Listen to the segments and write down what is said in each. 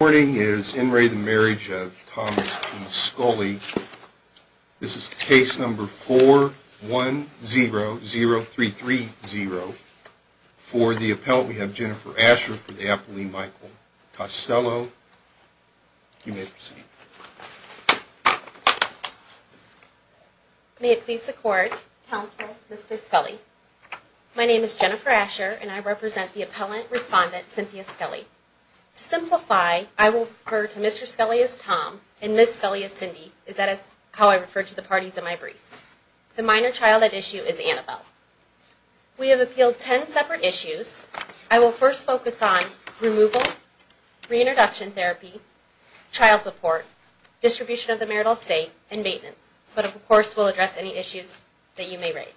This morning is In re the Marriage of Thomas P. Scully. This is case number 4100330. For the appellant we have Jennifer Asher for the appellee Michael Costello. You may proceed. May it please the court, counsel, Mr. Scully. My name is Jennifer Asher and I represent the appellant respondent Cynthia Scully. To simplify, I will refer to Mr. Scully as Tom and Ms. Scully as Cindy, as that is how I refer to the parties in my briefs. The minor child at issue is Annabelle. We have appealed 10 separate issues. I will first focus on removal, reintroduction therapy, child support, distribution of the marital estate, and maintenance, but of course we'll address any issues that you may raise.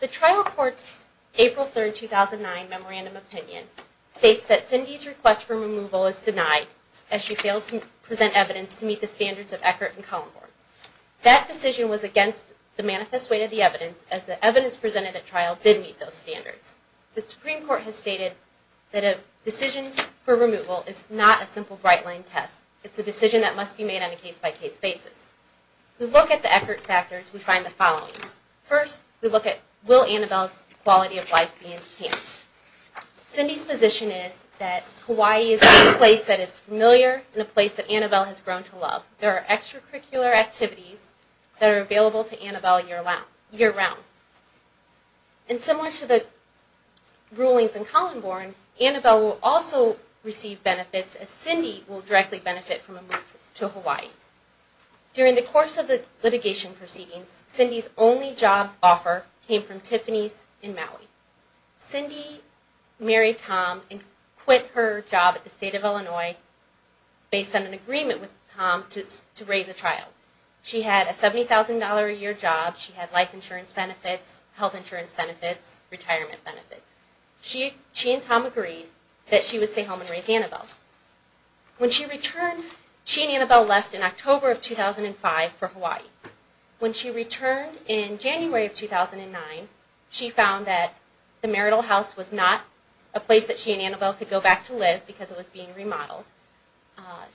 The trial court's April 3, 2009 Memorandum of Opinion states that Cindy's request for removal is denied, as she failed to present evidence to meet the standards of Eckert and Kallenborn. That decision was against the manifest weight of the evidence, as the evidence presented at trial did meet those standards. The Supreme Court has stated that a decision for removal is not a simple bright-line test. It's a decision that must be made on a case-by-case basis. To look at the Eckert factors, we find the following. First, we look at will Annabelle's quality of life be enhanced. Cindy's position is that Hawaii is a place that is familiar and a place that Annabelle has grown to love. There are extracurricular activities that are available to Annabelle year-round. And similar to the rulings in Kallenborn, Annabelle will also receive benefits, as Cindy will directly benefit from a move to Hawaii. During the course of the litigation proceedings, Cindy's only job offer came from Tiffany's in Maui. Cindy married Tom and quit her job at the state of Illinois based on an agreement with Tom to raise a child. She had a $70,000 a year job. She had life insurance benefits, health insurance benefits, retirement benefits. She and Tom agreed that she would stay home and raise Annabelle. When she returned, she and Annabelle left in October of 2005 for Hawaii. When she returned in January of 2009, she found that the marital house was not a place that she and Annabelle could go back to live because it was being remodeled.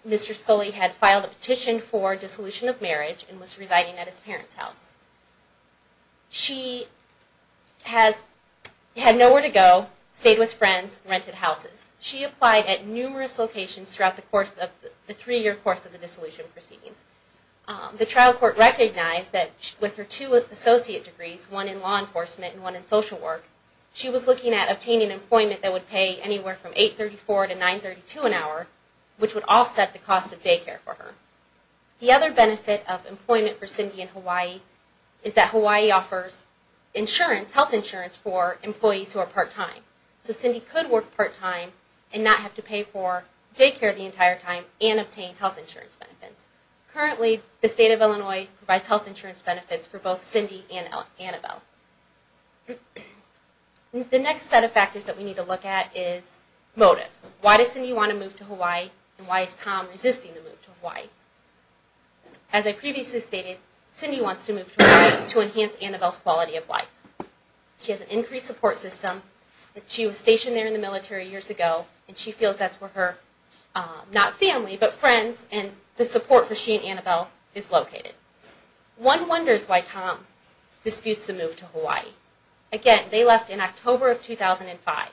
Mr. Scully had filed a petition for dissolution of marriage and was residing at his parents' house. She had nowhere to go, stayed with friends, rented houses. She applied at numerous locations throughout the three-year course of the dissolution proceedings. The trial court recognized that with her two associate degrees, one in law enforcement and one in social work, she was looking at obtaining employment that would pay anywhere from $8.34 to $9.32 an hour, which would offset the cost of daycare for her. The other benefit of employment for Cindy in Hawaii is that Hawaii offers health insurance for employees who are part-time. So Cindy could work part-time and not have to pay for daycare the entire time and obtain health insurance benefits. Currently, the state of Illinois provides health insurance benefits for both Cindy and Annabelle. The next set of factors that we need to look at is motive. Why does Cindy want to move to Hawaii and why is Tom resisting the move to Hawaii? As I previously stated, Cindy wants to move to Hawaii to enhance Annabelle's quality of life. She has an increased support system. She was stationed there in the military years ago and she feels that's where her, not family, but friends and the support for she and Annabelle is located. One wonders why Tom disputes the move to Hawaii. Again, they left in October of 2005.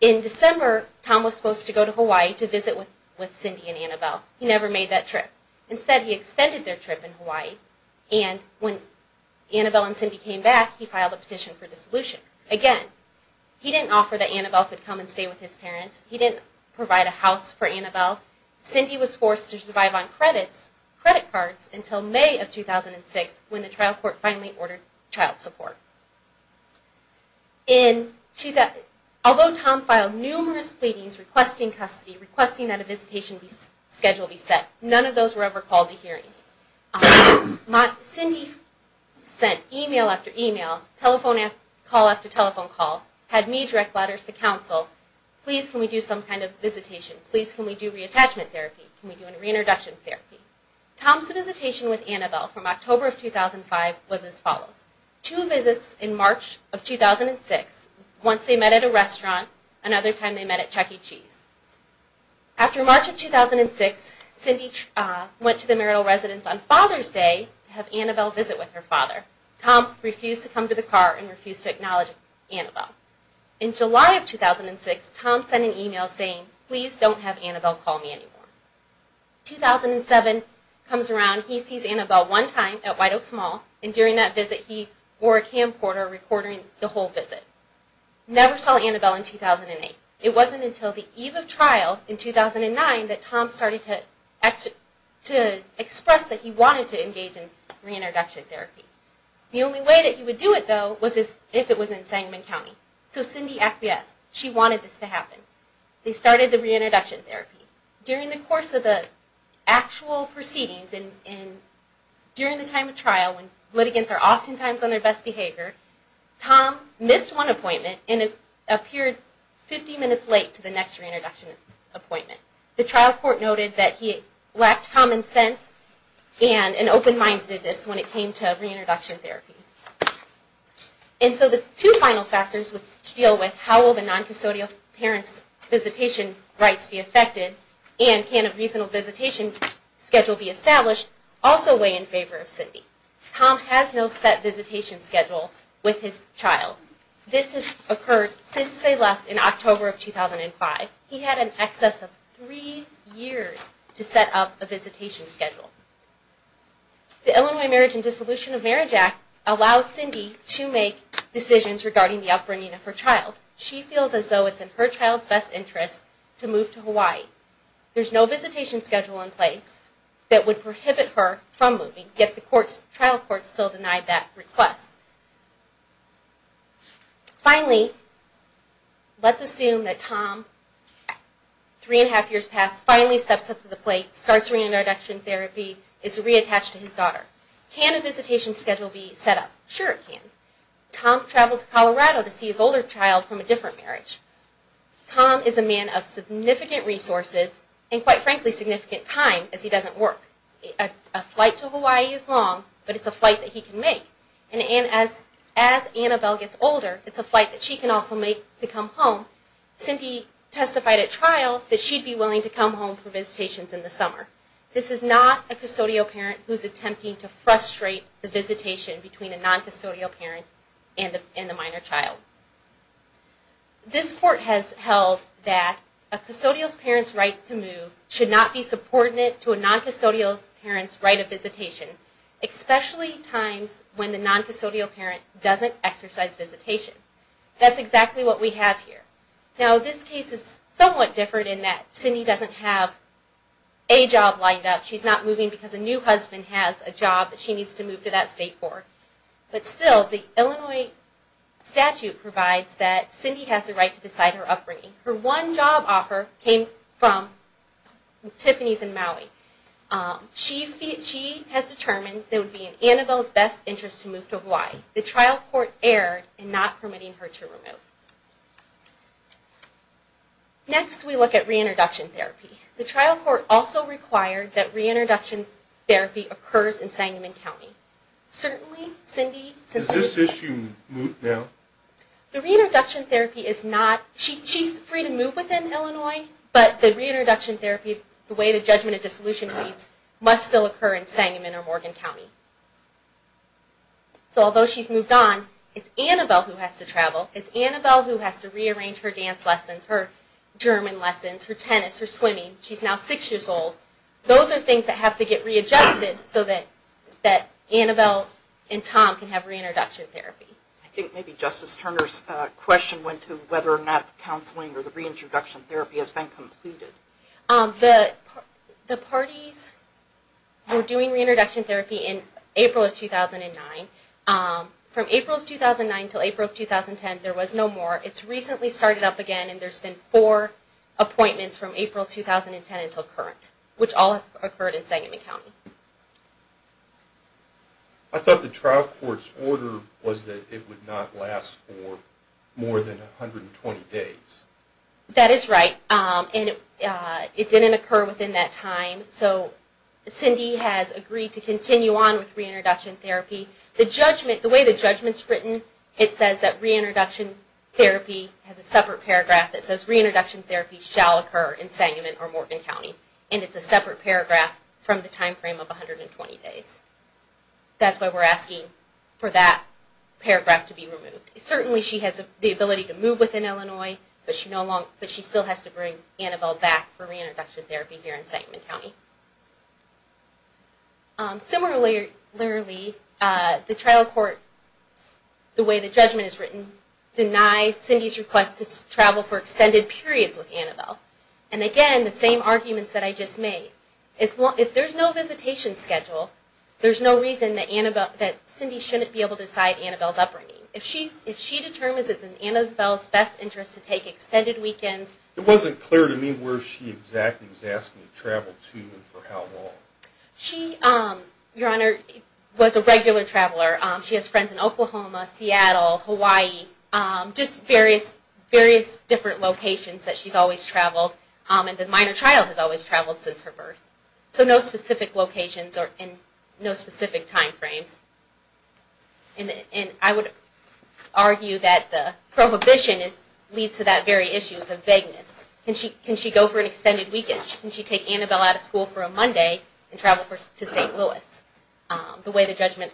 In December, Tom was supposed to go to Hawaii to visit with Cindy and Annabelle. He never made that trip. Instead, he extended their trip in Hawaii and when Annabelle and Cindy came back, he filed a petition for dissolution. Again, he didn't offer that Annabelle could come and stay with his parents. He didn't provide a house for Annabelle. Cindy was forced to survive on credit cards until May of 2006 when the trial court finally ordered child support. Although Tom filed numerous pleadings requesting custody, requesting that a visitation schedule be set, none of those were ever called to hearing. Cindy sent email after email, telephone call after telephone call, had me direct letters to counsel, please can we do some kind of visitation, please can we do reattachment therapy, can we do a reintroduction therapy. Tom's visitation with Annabelle from October of 2005 was as follows. Two visits in March of 2006, once they met at a restaurant, another time they met at Chuck E. Cheese. After March of 2006, Cindy went to the marital residence on Father's Day to have Annabelle visit with her father. Tom refused to come to the car and refused to acknowledge Annabelle. In July of 2006, Tom sent an email saying, please don't have Annabelle call me anymore. 2007 comes around, he sees Annabelle one time at White Oaks Mall, and during that visit he wore a camcorder recording the whole visit. Never saw Annabelle in 2008. It wasn't until the eve of trial in 2009 that Tom started to express that he wanted to engage in reintroduction therapy. The only way that he would do it though was if it was in Sangamon County. So Cindy acquiesced, she wanted this to happen. They started the reintroduction therapy. Tom missed one appointment and appeared 50 minutes late to the next reintroduction appointment. The trial court noted that he lacked common sense and an open-mindedness when it came to reintroduction therapy. And so the two final factors to deal with, how will the non-custodial parents' visitation rights be affected, and can a reasonable visitation schedule be established, also weigh in favor of Cindy. Tom has no set visitation schedule with his child. This has occurred since they left in October of 2005. He had in excess of three years to set up a visitation schedule. The Illinois Marriage and Dissolution of Marriage Act allows Cindy to make decisions regarding the upbringing of her child. She feels as though it's in her child's best interest to move to Hawaii. There's no visitation schedule in place that would prohibit her from moving, get the court to approve this. The trial court still denied that request. Finally, let's assume that Tom, three and a half years past, finally steps up to the plate, starts reintroduction therapy, is reattached to his daughter. Can a visitation schedule be set up? Sure it can. Tom traveled to Colorado to see his older child from a different marriage. Tom is a man of significant resources and, quite frankly, significant time as he doesn't work. A flight to Hawaii is long, but it's a flight that he can make. And as Annabelle gets older, it's a flight that she can also make to come home. Cindy testified at trial that she'd be willing to come home for visitations in the summer. This is not a custodial parent who's attempting to frustrate the visitation between a non-custodial parent and the minor child. This court has held that a custodial parent's right to move should not be subordinate to a non-custodial parent's right of visitation, especially times when the non-custodial parent doesn't exercise visitation. That's exactly what we have here. Now, this case is somewhat different in that Cindy doesn't have a job lined up. She's not moving because a new husband has a job that she needs to move to that state for. But still, the Illinois statute provides that Cindy has the right to decide her upbringing. Her one job offer came from Tiffany's in Maui. She has determined that it would be in Annabelle's best interest to move to Hawaii. The trial court erred in not permitting her to move. Next, we look at reintroduction therapy. The trial court also required that reintroduction therapy occurs in Sangamon County. Certainly, Cindy... Is this issue now? The reintroduction therapy is not... She's free to move within Illinois, but the reintroduction therapy, the way the judgment of dissolution reads, must still occur in Sangamon or Morgan County. So although she's moved on, it's Annabelle who has to travel. It's Annabelle who has to rearrange her dance lessons, her German lessons, her tennis, her swimming. She's now six years old. Those are things that have to get readjusted so that Annabelle and Tom can have reintroduction therapy. I think maybe Justice Turner's question went to whether or not counseling or the reintroduction therapy has been completed. The parties were doing reintroduction therapy in April of 2009. From April of 2009 until April of 2010, there was no more. It's recently started up again, and there's been four appointments from April of 2010 until current, which all have occurred in Sangamon County. I thought the trial court's order was that it would not last for more than 120 days. That is right, and it didn't occur within that time, so Cindy has agreed to continue on with reintroduction therapy. The judgment, the way the judgment's written, it says that reintroduction therapy has a separate paragraph from the time frame of 120 days. That's why we're asking for that paragraph to be removed. Certainly she has the ability to move within Illinois, but she still has to bring Annabelle back for reintroduction therapy here in Sangamon County. Similarly, the trial court, the way the judgment is written, denies Cindy's request to travel for extended periods with Annabelle. And again, the same arguments that I just made. If there's no visitation schedule, there's no reason that Cindy shouldn't be able to decide Annabelle's upbringing. If she determines it's in Annabelle's best interest to take extended weekends... It wasn't clear to me where she exactly was asking to travel to and for how long. She, Your Honor, was a regular traveler. She has friends in Oklahoma, Seattle, Hawaii, just various different locations that she's always traveled. And the minor child has always traveled since her birth. So no specific locations and no specific time frames. And I would argue that the prohibition leads to that very issue of vagueness. Can she go for an extended weekend? Can she take Annabelle out of school for a Monday and travel to St. Louis? The way the judgment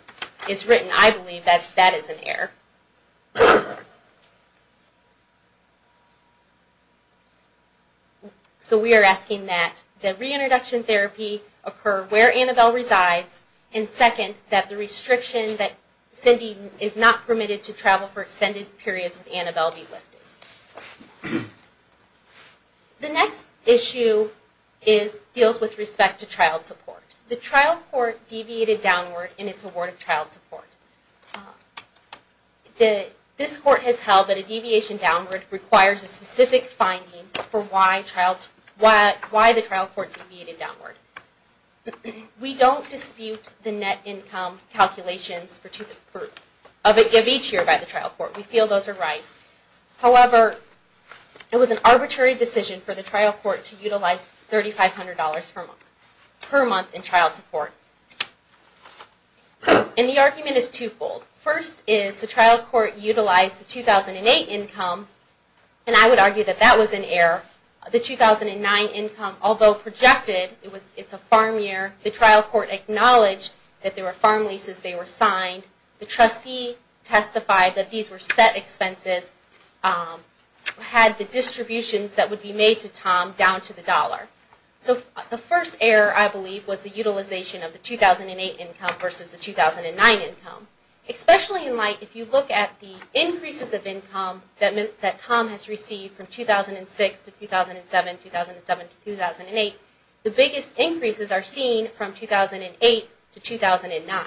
is written, I believe that that is an error. So we are asking that the reintroduction therapy occur where Annabelle resides. And second, that the restriction that Cindy is not permitted to travel for extended periods with Annabelle be lifted. The next issue deals with respect to child support. The trial court deviated downward in its award of child support. This court has held that a deviation downward requires a specific finding for why the trial court deviated downward. We don't dispute the net income calculations of each year by the trial court. We feel those are right. However, it was an arbitrary decision for the trial court to utilize $3,500 per month in child support. And the argument is twofold. First is the trial court utilized the 2008 income, and I would argue that that was an error. The 2009 income, although projected, it's a farm year, the trial court acknowledged that there were farm leases that were signed. The trustee testified that these were set expenses, had the distributions that would be made to Tom down to the dollar. So the first error, I believe, was the utilization of the 2008 income versus the 2009 income. Especially in light, if you look at the increases of income that Tom has received from 2006 to 2007, 2007 to 2008, the biggest increases are seen from 2008 to 2009.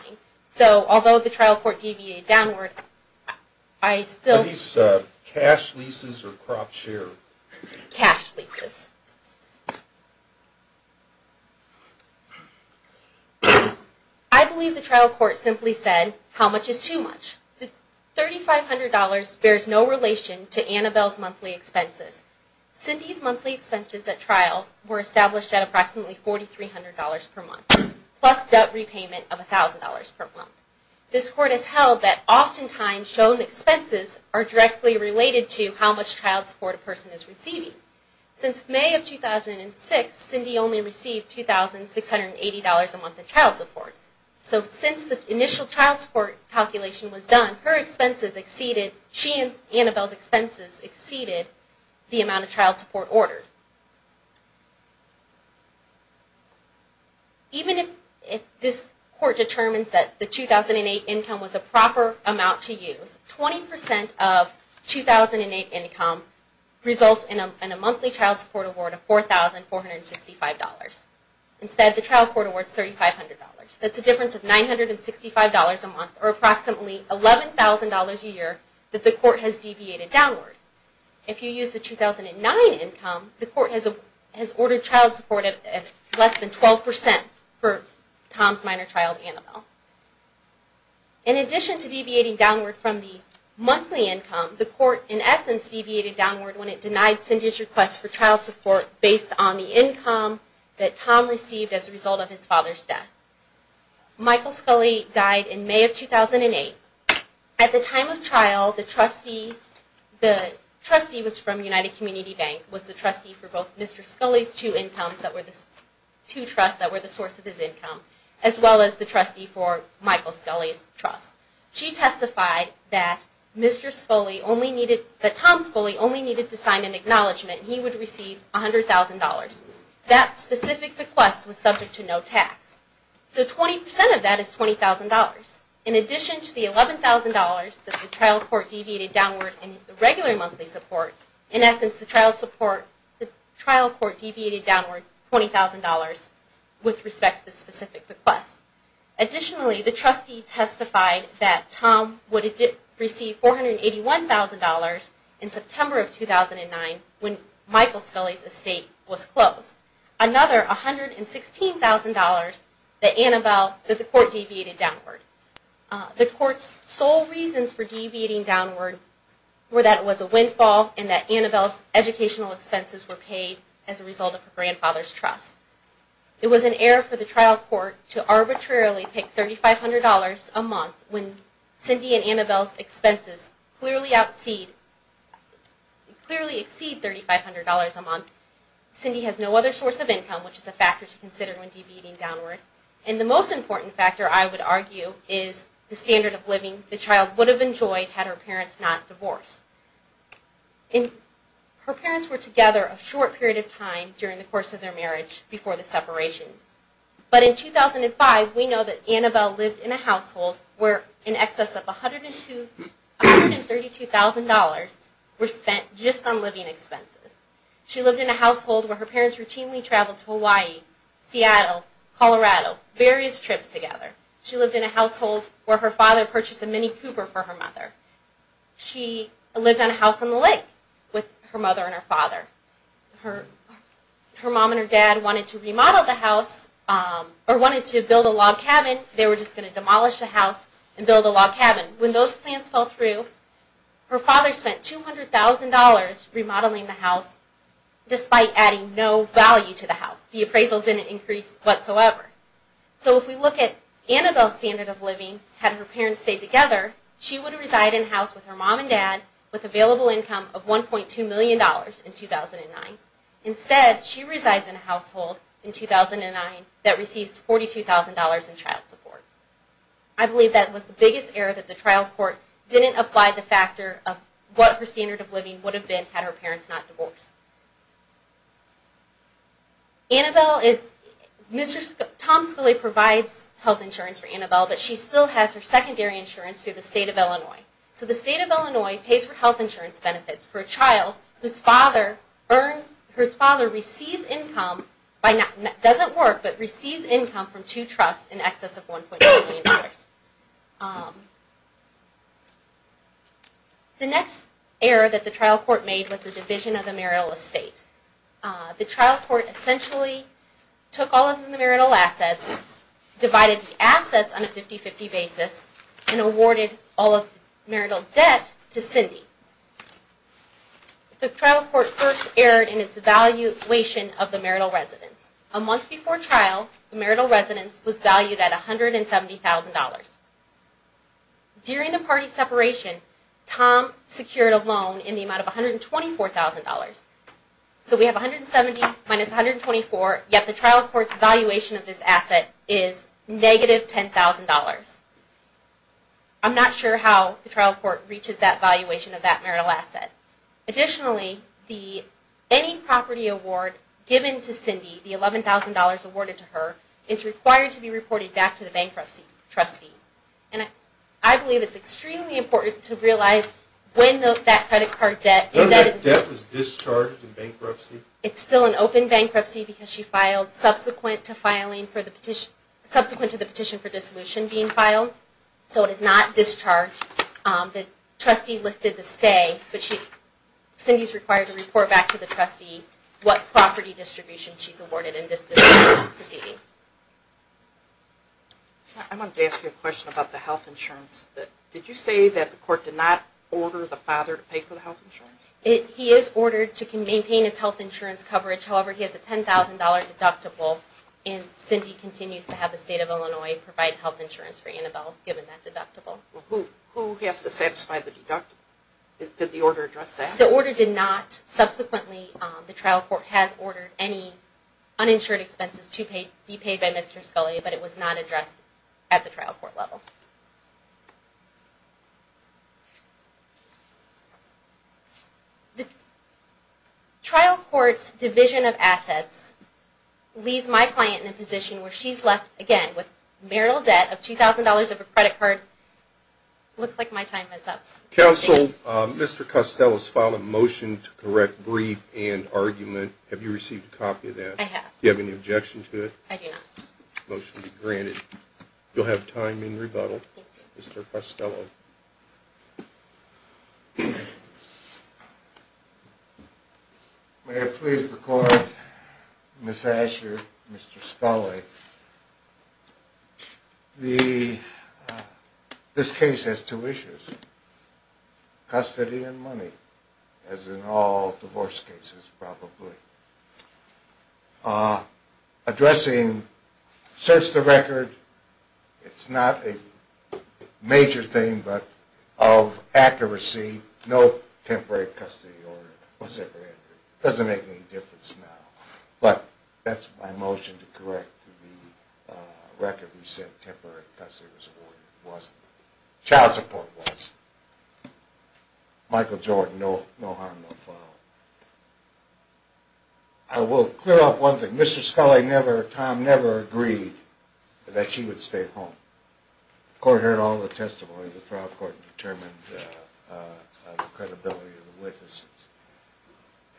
So although the trial court deviated downward, I still... Are these cash leases or crop share? Cash leases. I believe the trial court simply said, how much is too much? The $3,500 bears no relation to Annabelle's monthly expenses. Cindy's monthly expenses at trial were established at approximately $4,300 per month, plus debt repayment of $1,000 per month. This court has held that oftentimes shown expenses are directly related to how much child support a person is receiving. Since May of 2006, Cindy only received $2,680 a month in child support. So since the initial child support calculation was done, her expenses exceeded... She and Annabelle's expenses exceeded the amount of child support ordered. Even if this court determines that the 2008 income was a proper amount to use, 20% of 2008 income results in a monthly child support award of $4,465. Instead, the trial court awards $3,500. That's a difference of $965 a month, or approximately $11,000 a year that the court has deviated downward. If you use the 2009 income, the court has ordered child support at less than 12% for Tom's minor child, Annabelle. In addition to deviating downward from the monthly income, the court in essence deviated downward when it denied Cindy's request for child support based on the income that Tom received as a result of his father's death. Michael Scully died in May of 2008. At the time of trial, the trustee was from United Community Bank, was the trustee for both Mr. Scully's two trusts that were the source of his income, as well as the trustee for Michael Scully's trust. She testified that Tom Scully only needed to sign an acknowledgement and he would receive $100,000. That specific request was subject to no tax. So 20% of that is $20,000. In addition to the $11,000 that the trial court deviated downward in the regular monthly support, in essence the trial court deviated downward $20,000 with respect to the specific request. Additionally, the trustee testified that Tom would receive $481,000 in September of 2009 when Michael Scully's estate was closed. Another $116,000 that the court deviated downward. The court's sole reasons for deviating downward were that it was a windfall and that Annabelle's educational expenses were paid as a result of her grandfather's trust. It was an error for the trial court to arbitrarily pick $3,500 a month when Cindy and Annabelle's expenses clearly exceed $3,500 a month. Cindy has no other source of income, which is a factor to consider when deviating downward. And the most important factor, I would argue, is the standard of living the child would have enjoyed had her parents not divorced. Her parents were together a short period of time during the course of their marriage before the separation. But in 2005, we know that Annabelle lived in a household where in excess of $132,000 were spent just on living expenses. She lived in a household where her parents routinely traveled to Hawaii, Seattle, Colorado, various trips together. She lived in a household where her father purchased a Mini Cooper for her mother. She lived on a house on the lake with her mother and her father. Her mom and her dad wanted to remodel the house or wanted to build a log cabin. They were just going to demolish the house and build a log cabin. When those plans fell through, her father spent $200,000 remodeling the house despite adding no value to the house. The appraisal didn't increase whatsoever. So if we look at Annabelle's standard of living, had her parents stayed together, she would reside in a house with her mom and dad with available income of $1.2 million in 2009. Instead, she resides in a household in 2009 that receives $42,000 in child support. I believe that was the biggest error that the trial court didn't apply the factor of what her standard of living would have been had her parents not divorced. Annabelle is, Mr. Tom Scully provides health insurance for Annabelle, but she still has her secondary insurance through the state of Illinois. So the state of Illinois pays for health insurance benefits for a child whose father receives income, doesn't work, but receives income from two trusts in excess of $1.2 million. The next error that the trial court made was the division of the marital estate. The trial court essentially took all of the marital assets, divided the assets on a 50-50 basis, and awarded all of the marital debt to Cindy. The trial court first erred in its valuation of the marital residence. A month before trial, the marital residence was valued at $170,000. During the party separation, Tom secured a loan in the amount of $124,000. So we have $170,000 minus $124,000, yet the trial court's valuation of this asset is negative $10,000. I'm not sure how the trial court reaches that valuation of that marital asset. Additionally, any property award given to Cindy, the $11,000 awarded to her, is required to be reported back to the bankruptcy trustee. I believe it's extremely important to realize when that credit card debt is... Doesn't that debt was discharged in bankruptcy? It's still in open bankruptcy because she filed subsequent to the petition for dissolution being filed. So it is not discharged. The trustee listed the stay, but Cindy's required to report back to the trustee what property distribution she's awarded in this proceeding. I wanted to ask you a question about the health insurance. Did you say that the court did not order the father to pay for the health insurance? He is ordered to maintain his health insurance coverage. However, he has a $10,000 deductible, and Cindy continues to have the state of Illinois provide health insurance for Annabelle given that deductible. Who has to satisfy the deductible? Did the order address that? The order did not. Subsequently, the trial court has ordered any uninsured expenses to be paid by Mr. Scully, but it was not addressed at the trial court level. The trial court's division of assets leaves my client in a position where she's left again with marital debt of $2,000 of a credit card. Looks like my time is up. Counsel, Mr. Costello has filed a motion to correct brief and argument. Have you received a copy of that? I have. Do you have any objection to it? Motion to be granted. You'll have time in rebuttal. Counsel, Mr. Costello. May it please the court, Ms. Asher, Mr. Scully, this case has two issues, custody and money, as in all divorce cases probably. Addressing, search the record, it's not a major thing, but of accuracy, no temporary custody order was ever entered. Doesn't make any difference now. But that's my motion to correct the record. We said temporary custody was awarded. It wasn't. Child support wasn't. Michael Jordan, no harm, no foul. I will clear up one thing. Mr. Scully never, Tom never agreed that she would stay home. The court heard all the testimony. The trial court determined the credibility of the witnesses.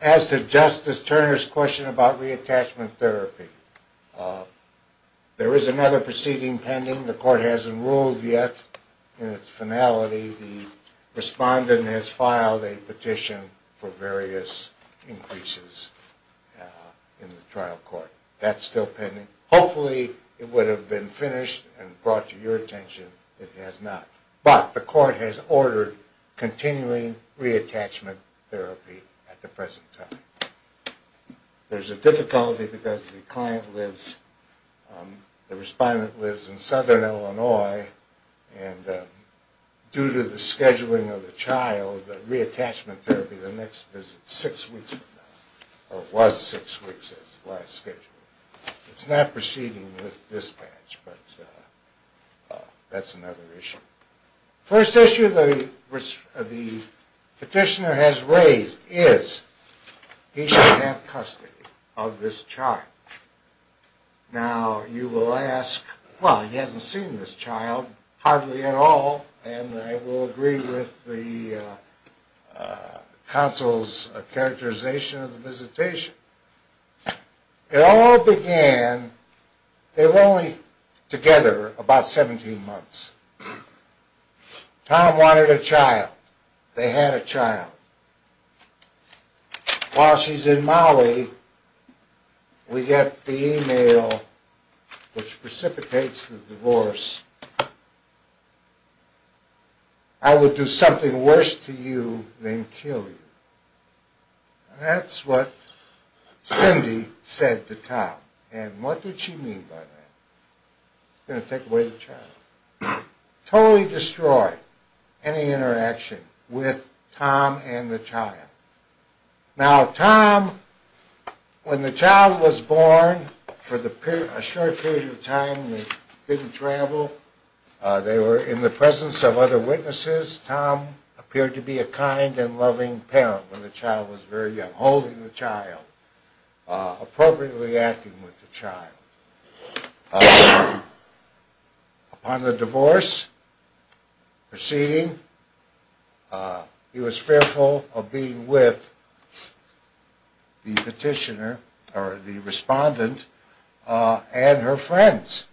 As to Justice Turner's question about reattachment therapy, there is another proceeding pending. The court hasn't ruled yet in its finality. The respondent has filed a petition for various increases in the trial court. That's still pending. Hopefully it would have been finished and brought to your attention. It has not. But the court has ordered continuing reattachment therapy at the present time. There's a difficulty because the client lives, the respondent lives in southern Illinois, and due to the scheduling of the child, the reattachment therapy, the next visit is six weeks from now, or was six weeks as last scheduled. It's not proceeding with dispatch, but that's another issue. First issue the petitioner has raised is he should have custody of this child. Now, you will ask, well, he hasn't seen this child hardly at all, and I will agree with the counsel's characterization of the visitation. It all began, they were only together about 17 months. Tom wanted a child. They had a child. While she's in Maui, we get the email which precipitates the divorce. I would do something worse to you than kill you. That's what Cindy said to Tom. And what did she mean by that? She's going to take away the child. Totally destroy any interaction with Tom and the child. Now, Tom, when the child was born, for a short period of time they didn't travel. They were in the presence of other witnesses. Tom appeared to be a kind and loving parent when the child was very young, From the divorce proceeding, he was fearful of being with the petitioner or the respondent and her friends.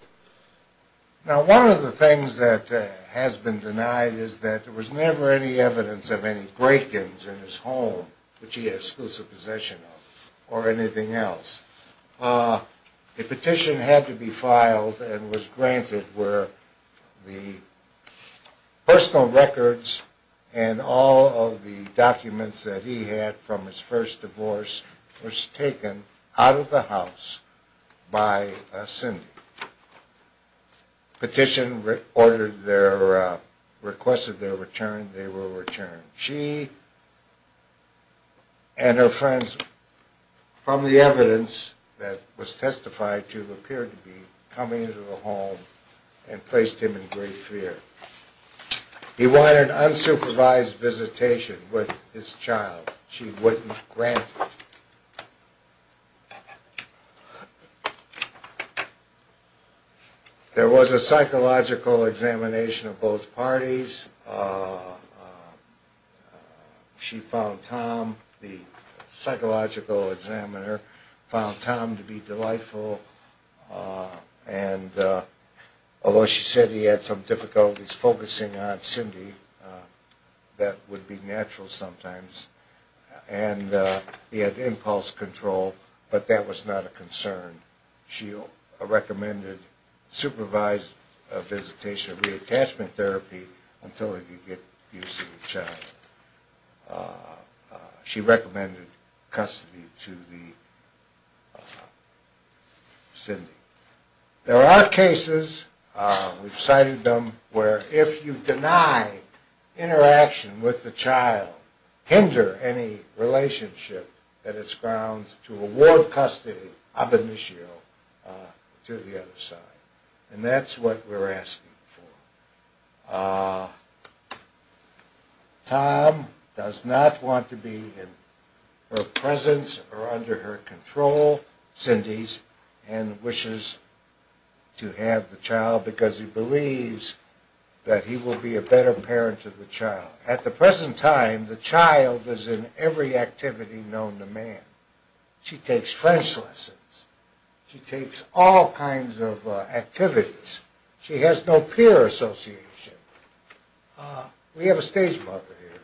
Now, one of the things that has been denied is that there was never any evidence of any break-ins in his home, which he had exclusive possession of, or anything else. The petition had to be filed and was granted where the personal records and all of the documents that he had from his first divorce was taken out of the house by Cindy. Petition requested their return, they were returned. She and her friends, from the evidence that was testified to, appeared to be coming into the home and placed him in great fear. He wanted unsupervised visitation with his child. She wouldn't grant it. There was a psychological examination of both parties. She found Tom, the psychological examiner, found Tom to be delightful. Although she said he had some difficulties focusing on Cindy, that would be natural sometimes. And he had impulse control, but that was not a concern. She recommended supervised visitation and reattachment therapy until he could get use to the child. She recommended custody to Cindy. There are cases, we've cited them, where if you deny interaction with the child, hinder any relationship, that it's grounds to award custody, ab initio, to the other side. And that's what we're asking for. Tom does not want to be in her presence or under her control, Cindy's, and wishes to have the child because he believes that he will be a better parent to the child. At the present time, the child is in every activity known to man. She takes French lessons. She takes all kinds of activities. She has no peer association. We have a stage mother here.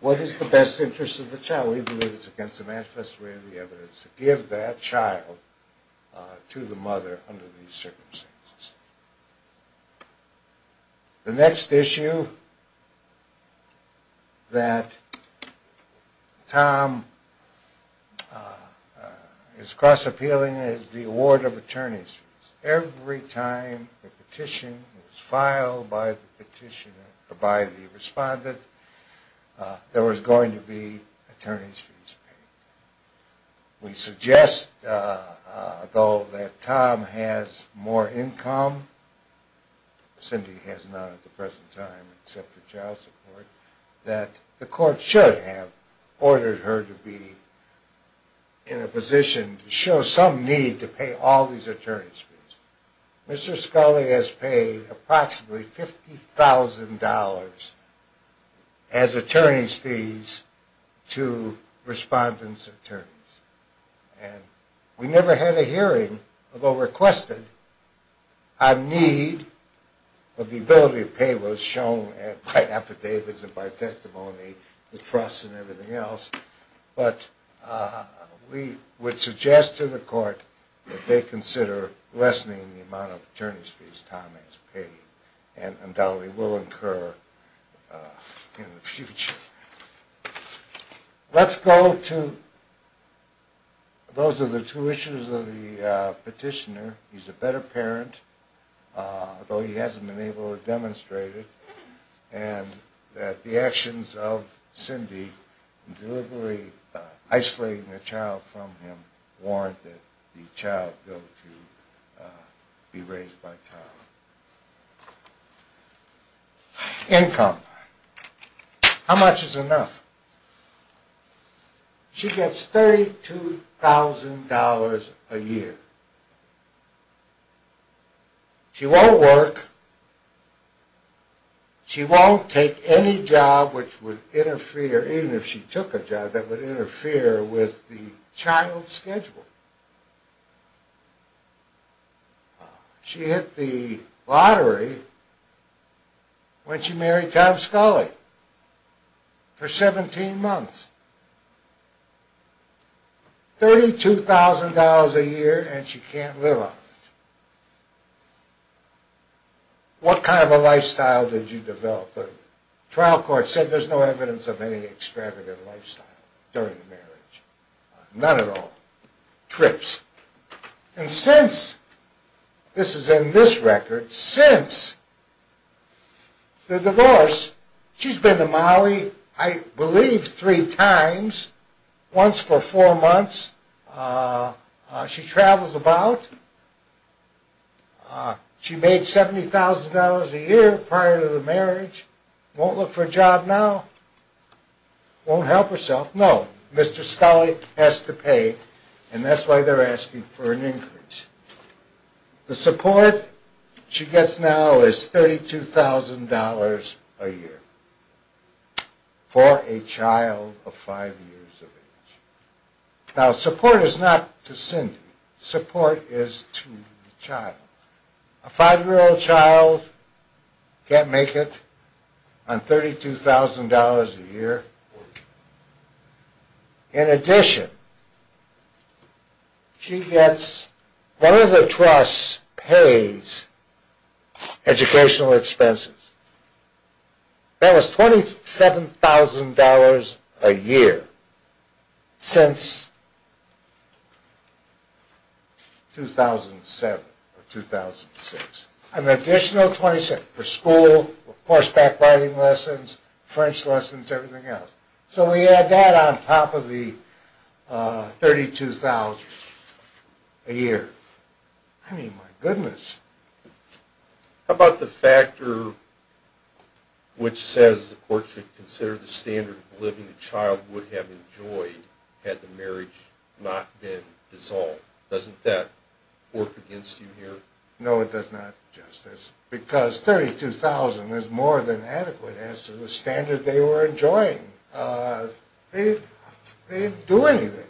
What is the best interest of the child? We believe it's against the manifest way of the evidence to give that child to the mother under these circumstances. The next issue that Tom is cross appealing is the award of attorney's fees. Every time a petition was filed by the respondent, there was going to be attorney's fees paid. We suggest, though, that Tom has more income, Cindy has none at the present time except for child support, that the court should have ordered her to be in a position to show some need to pay all these attorney's fees. Mr. Scully has paid approximately $50,000 as attorney's fees to respondent's attorneys. And we never had a hearing, although requested, on need, but the ability to pay was shown by affidavits and by testimony, the trust and everything else. But we would suggest to the court that they consider lessening the amount of attorney's fees Tom has paid, and undoubtedly will incur in the future. Let's go to, those are the two issues of the petitioner. He's a better parent, though he hasn't been able to demonstrate it, and that the actions of Cindy in deliberately isolating the child from him warrant that the child go to be raised by Tom. Income. How much is enough? She gets $32,000 a year. She won't work. She won't take any job which would interfere, even if she took a job, that would interfere with the child's schedule. She hit the lottery when she married Tom Scully, for 17 months. $32,000 a year and she can't live on it. What kind of a lifestyle did you develop? The trial court said there's no evidence of any extravagant lifestyle during the marriage. None at all. Trips. And since, this is in this record, since the divorce, she's been to Maui, I believe, three times. Once for four months. She travels about. She made $70,000 a year prior to the marriage. Won't look for a job now. Won't help herself. No. Mr. Scully has to pay and that's why they're asking for an increase. The support she gets now is $32,000 a year for a child of five years of age. Now support is not to Cindy. The support is to the child. A five-year-old child can't make it on $32,000 a year. In addition, she gets, one of the trusts pays educational expenses. That was $27,000 a year. Since 2007 or 2006. An additional $27,000 for school, horseback riding lessons, French lessons, everything else. So we add that on top of the $32,000 a year. I mean, my goodness. How about the factor which says the court should consider the standard of living the child would have enjoyed had the marriage not been dissolved? Doesn't that work against you here? No, it does not, Justice, because $32,000 is more than adequate as to the standard they were enjoying. They didn't do anything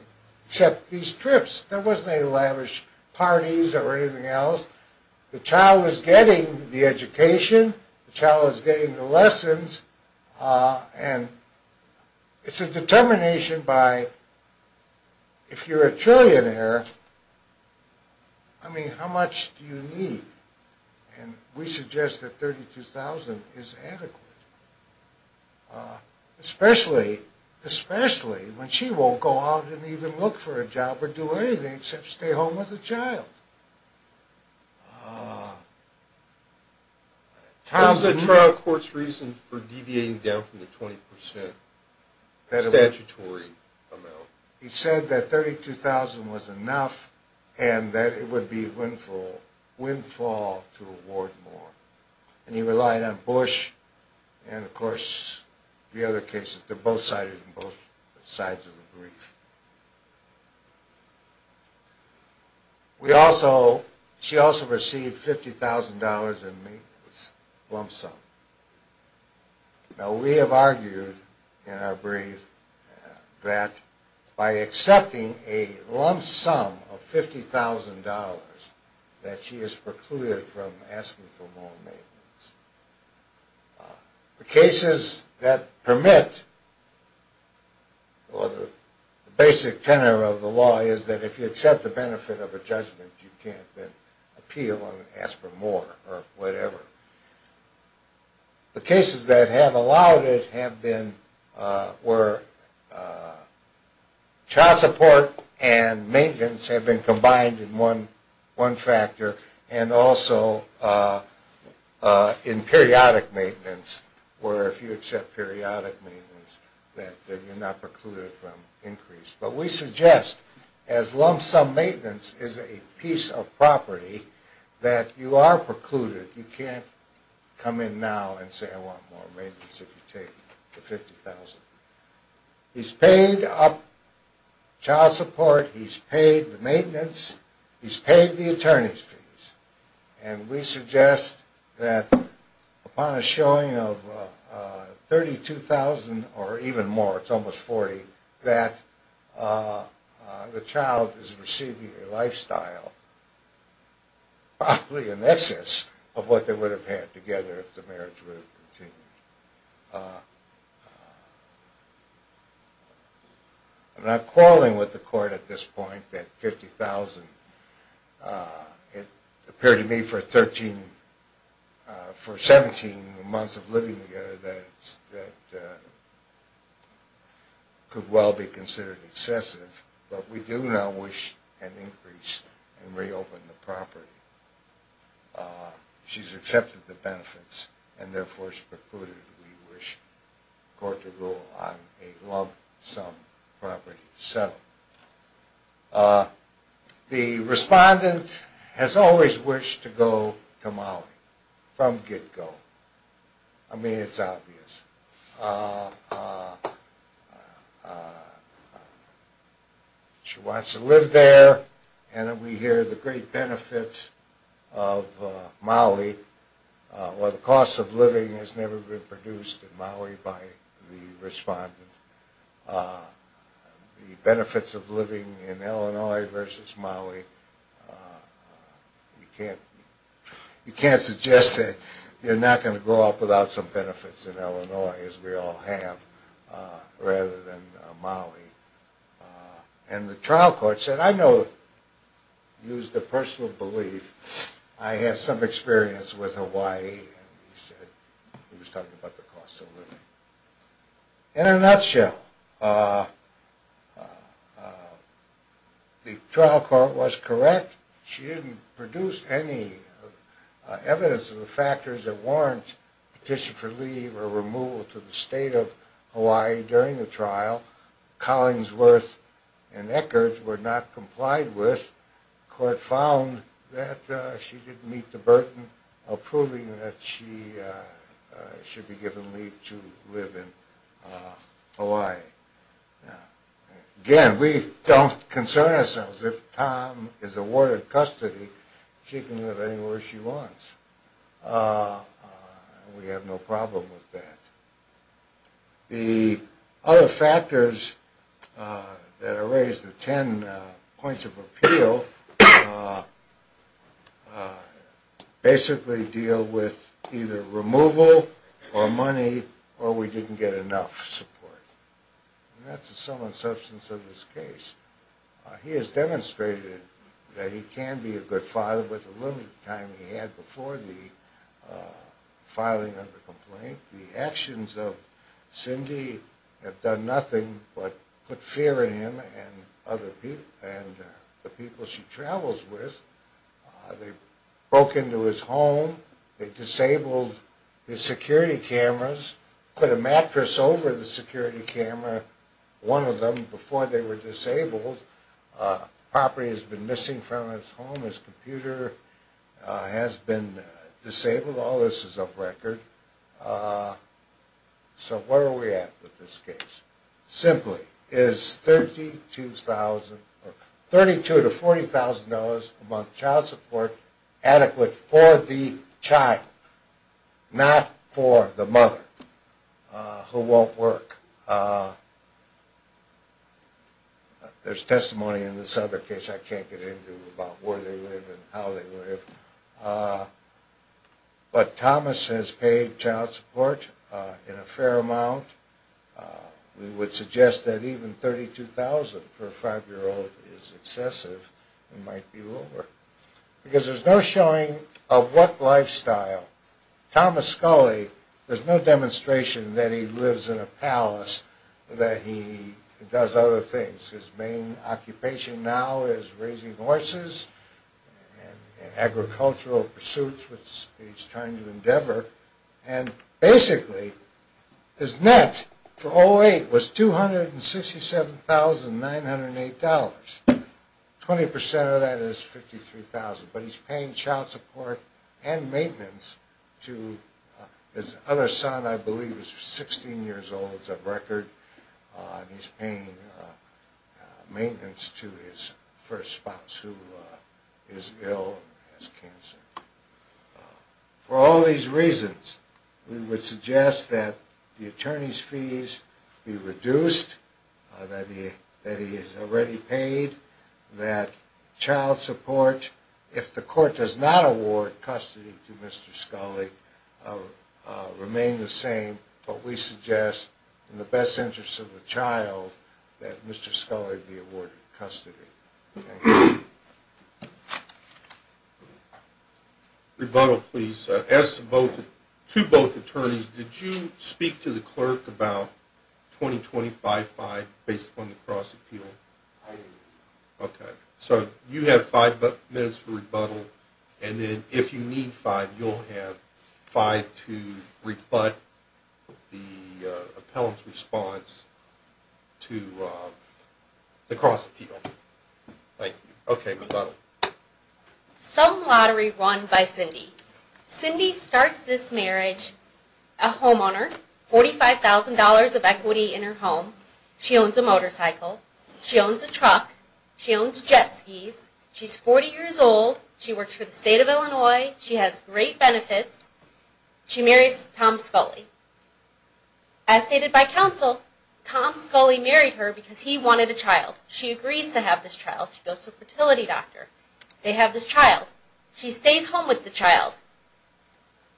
except these trips. There wasn't any lavish parties or anything else. The child is getting the education, the child is getting the lessons, and it's a determination by, if you're a trillionaire, I mean, how much do you need? And we suggest that $32,000 is adequate. Especially when she won't go out and even look for a job or do anything except stay home with the child. What's the trial court's reason for deviating down from the 20% statutory amount? He said that $32,000 was enough and that it would be windfall to award more. And he relied on Bush and, of course, the other cases. They're both sides of the brief. She also received $50,000 in lump sum. Now, we have argued in our brief that by accepting a lump sum of $50,000 that she is precluded from asking for more maintenance. The cases that permit, or the basic tenor of the law is that if you accept the benefit of a judgment, you can't then appeal and ask for more or whatever. The cases that have allowed it have been where child support and maintenance have been combined in one factor and also in periodic maintenance, where if you accept periodic maintenance, then you're not precluded from increase. But we suggest, as lump sum maintenance is a piece of property, that you are precluded. You can't come in now and say I want more maintenance if you take the $50,000. He's paid up child support, he's paid the maintenance, he's paid the attorney's fees. And we suggest that upon a showing of $32,000 or even more, it's almost $40,000, that the child is receiving a lifestyle probably in excess of what they would have had together if the marriage were to continue. I'm not calling with the court at this point that $50,000, it appeared to me for 17 months of living together that could well be considered excessive, but we do now wish an increase and reopen the property. She's accepted the benefits and therefore is precluded. We wish court to rule on a lump sum property settlement. The respondent has always wished to go to Maui from get-go. I mean, it's obvious. She wants to live there, and we hear the great benefits of Maui. Well, the cost of living has never been produced in Maui by the respondent. The benefits of living in Illinois versus Maui, you can't suggest that you're not going to grow up without some benefits in Illinois, as we all have, rather than Maui. And the trial court said, I know, used a personal belief, I have some experience with Hawaii, and he said, he was talking about the cost of living. In a nutshell, the trial court was correct. She didn't produce any evidence of the factors that warrant petition for leave or removal to the state of Hawaii during the trial. Collinsworth and Eckert were not complied with. The court found that she didn't meet the burden of proving that she should be given leave to live in Hawaii. Again, we don't concern ourselves. If Tom is awarded custody, she can live anywhere she wants. We have no problem with that. The other factors that are raised, the ten points of appeal, basically deal with either removal or money, or we didn't get enough support. And that's the sum and substance of this case. He has demonstrated that he can be a good father with the little time he had before the filing of the complaint. The actions of Cindy have done nothing but put fear in him and the people she travels with. They broke into his home, they disabled his security cameras, put a mattress over the security camera, one of them, before they were disabled. Property has been missing from his home, his computer has been disabled. All this is off record. So where are we at with this case? Simply, is $32,000 to $40,000 a month child support adequate for the child? Not for the mother who won't work. There's testimony in this other case I can't get into about where they live and how they live. But Thomas has paid child support in a fair amount. We would suggest that even $32,000 for a five-year-old is excessive and might be lower. Because there's no showing of what lifestyle. Thomas Scully, there's no demonstration that he lives in a palace, that he does other things. His main occupation now is raising horses and agricultural pursuits, which he's trying to endeavor. And basically, his net for 2008 was $267,908. 20% of that is $53,000. But he's paying child support and maintenance to his other son, I believe, who's 16 years old. And he's paying maintenance to his first spouse who is ill and has cancer. For all these reasons, we would suggest that the attorney's fees be reduced, that he is already paid, that child support, if the court does not award custody to Mr. Scully, remain the same. But we suggest, in the best interest of the child, that Mr. Scully be awarded custody. Rebuttal, please. To both attorneys, did you speak to the clerk about 20-25-5 based on the cross-appeal? I did. Okay, so you have five minutes for rebuttal. And then if you need five, you'll have five to rebut the appellant's response to the cross-appeal. Thank you. Okay, rebuttal. Some Lottery run by Cindy. Cindy starts this marriage, a homeowner, $45,000 of equity in her home. She owns a motorcycle. She owns a truck. She owns jet skis. She's 40 years old. She works for the state of Illinois. She has great benefits. She marries Tom Scully. As stated by counsel, Tom Scully married her because he wanted a child. She agrees to have this child. She goes to a fertility doctor. They have this child. She stays home with the child.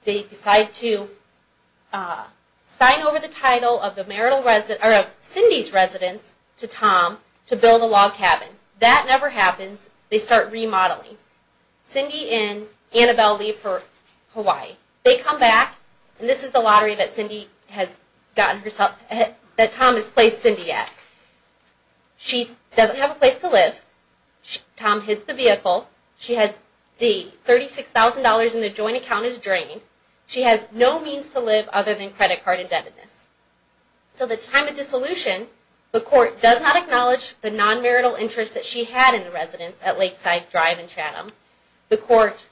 They decide to sign over the title of Cindy's residence to Tom to build a log cabin. That never happens. They start remodeling. Cindy and Annabelle leave for Hawaii. They come back. This is the lottery that Tom has placed Cindy at. She doesn't have a place to live. Tom hits the vehicle. The $36,000 in the joint account is drained. She has no means to live other than credit card indebtedness. So the time of dissolution, the court does not acknowledge the non-marital interest that she had in the residence at Lakeside Drive in Chatham. The court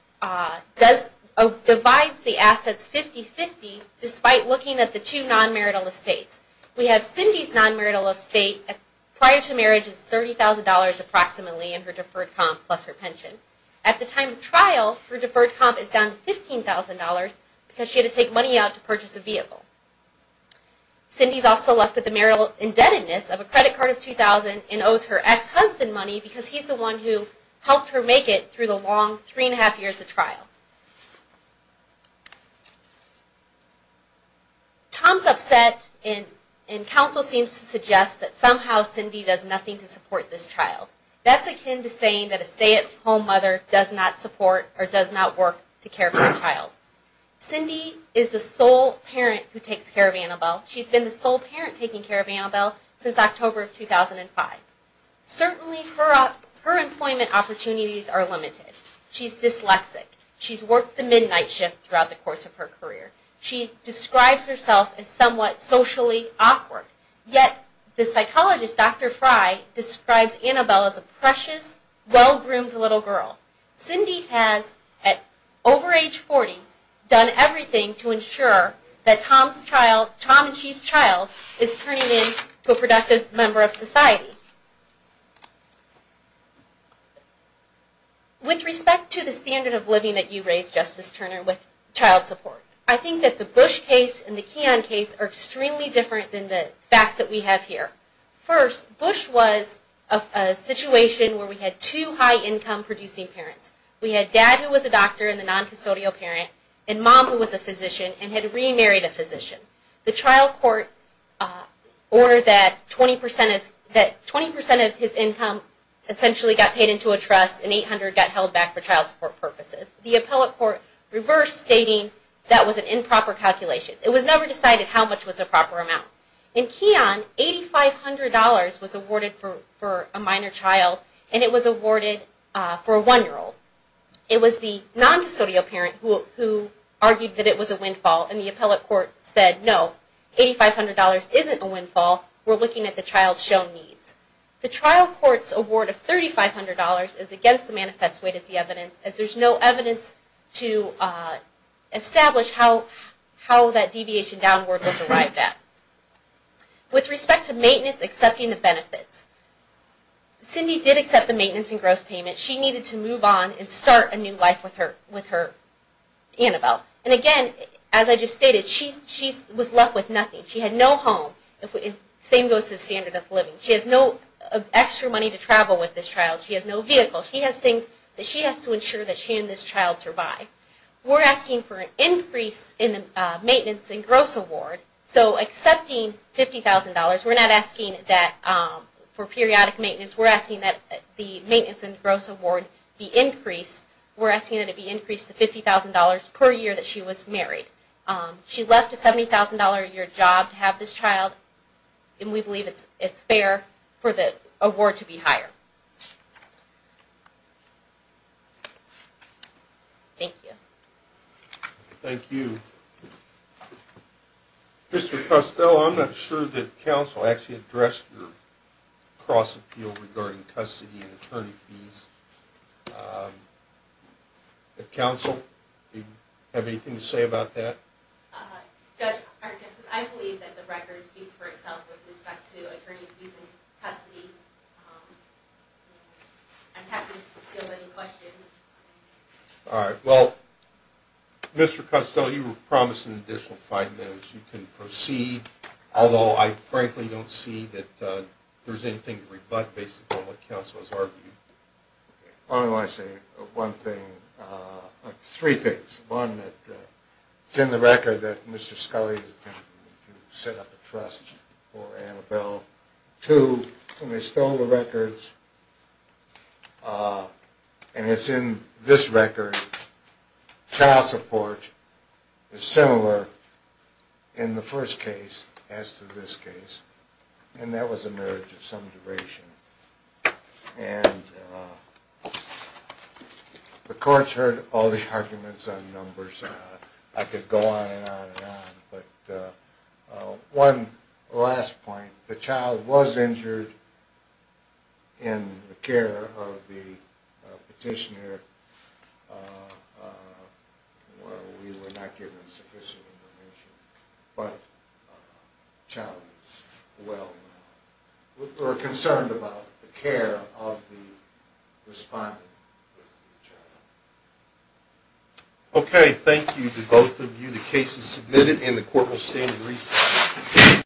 divides the assets 50-50 despite looking at the two non-marital estates. We have Cindy's non-marital estate prior to marriage is $30,000 approximately in her deferred comp plus her pension. At the time of trial, her deferred comp is down to $15,000 because she had to take money out to purchase a vehicle. Cindy's also left with the marital indebtedness of a credit card of $2,000 and owes her ex-husband money because he's the one who helped her make it through the long 3.5 years of trial. Tom's upset and counsel seems to suggest that somehow Cindy does nothing to support this child. That's akin to saying that a stay-at-home mother does not support or does not work to care for a child. Cindy is the sole parent who takes care of Annabelle. She's been the sole parent taking care of Annabelle since October of 2005. Certainly her employment opportunities are limited. She's dyslexic. She's worked the midnight shift throughout the course of her career. She describes herself as somewhat socially awkward. Yet the psychologist, Dr. Fry, describes Annabelle as a precious, well-groomed little girl. Cindy has, at over age 40, done everything to ensure that Tom and she's child is turning into a productive member of society. With respect to the standard of living that you raised, Justice Turner, with child support, I think that the Bush case and the Keon case are extremely different than the facts that we have here. First, Bush was a situation where we had two high-income producing parents. We had dad who was a doctor and the non-custodial parent and mom who was a physician and had remarried a physician. The trial court ordered that 20% of his income essentially got paid into a trust and $800 got held back for child support purposes. The appellate court reversed stating that was an improper calculation. It was never decided how much was a proper amount. In Keon, $8,500 was awarded for a minor child and it was awarded for a one-year-old. It was the non-custodial parent who argued that it was a windfall and the appellate court said, no, $8,500 isn't a windfall. We're looking at the child's shown needs. The trial court's award of $3,500 is against the manifest way to see evidence as there's no evidence to establish how that deviation downward was arrived at. With respect to maintenance, accepting the benefits, Cindy did accept the maintenance and gross payment. She needed to move on and start a new life with her Annabelle. Again, as I just stated, she was left with nothing. She had no home. Same goes to the standard of living. She has no extra money to travel with this child. She has no vehicle. She has things that she has to ensure that she and this child survive. We're asking for an increase in the maintenance and gross award. So accepting $50,000, we're not asking for periodic maintenance. We're asking that the maintenance and gross award be increased. We're asking that it be increased to $50,000 per year that she was married. She left a $70,000 a year job to have this child, and we believe it's fair for the award to be higher. Thank you. Mr. Costello, I'm not sure that counsel actually addressed your cross-appeal regarding custody and attorney fees. Counsel, do you have anything to say about that? Judge, I believe that the record speaks for itself with respect to attorney fees and custody. I'm happy to field any questions. All right. Well, Mr. Costello, you were promised an additional five minutes. You can proceed. Although I frankly don't see that there's anything to rebut based upon what counsel has argued. I only want to say one thing, three things. One, it's in the record that Mr. Scully set up a trust for Annabelle. Two, when they stole the records, and it's in this record, the child support is similar in the first case as to this case. And that was a marriage of some duration. And the courts heard all the arguments on numbers. I could go on and on and on. But one last point. The child was injured in the care of the petitioner. We were not given sufficient information. But the child is well now. We're concerned about the care of the respondent with the child. Okay. Thank you to both of you. The case is submitted and the court will stand in recess.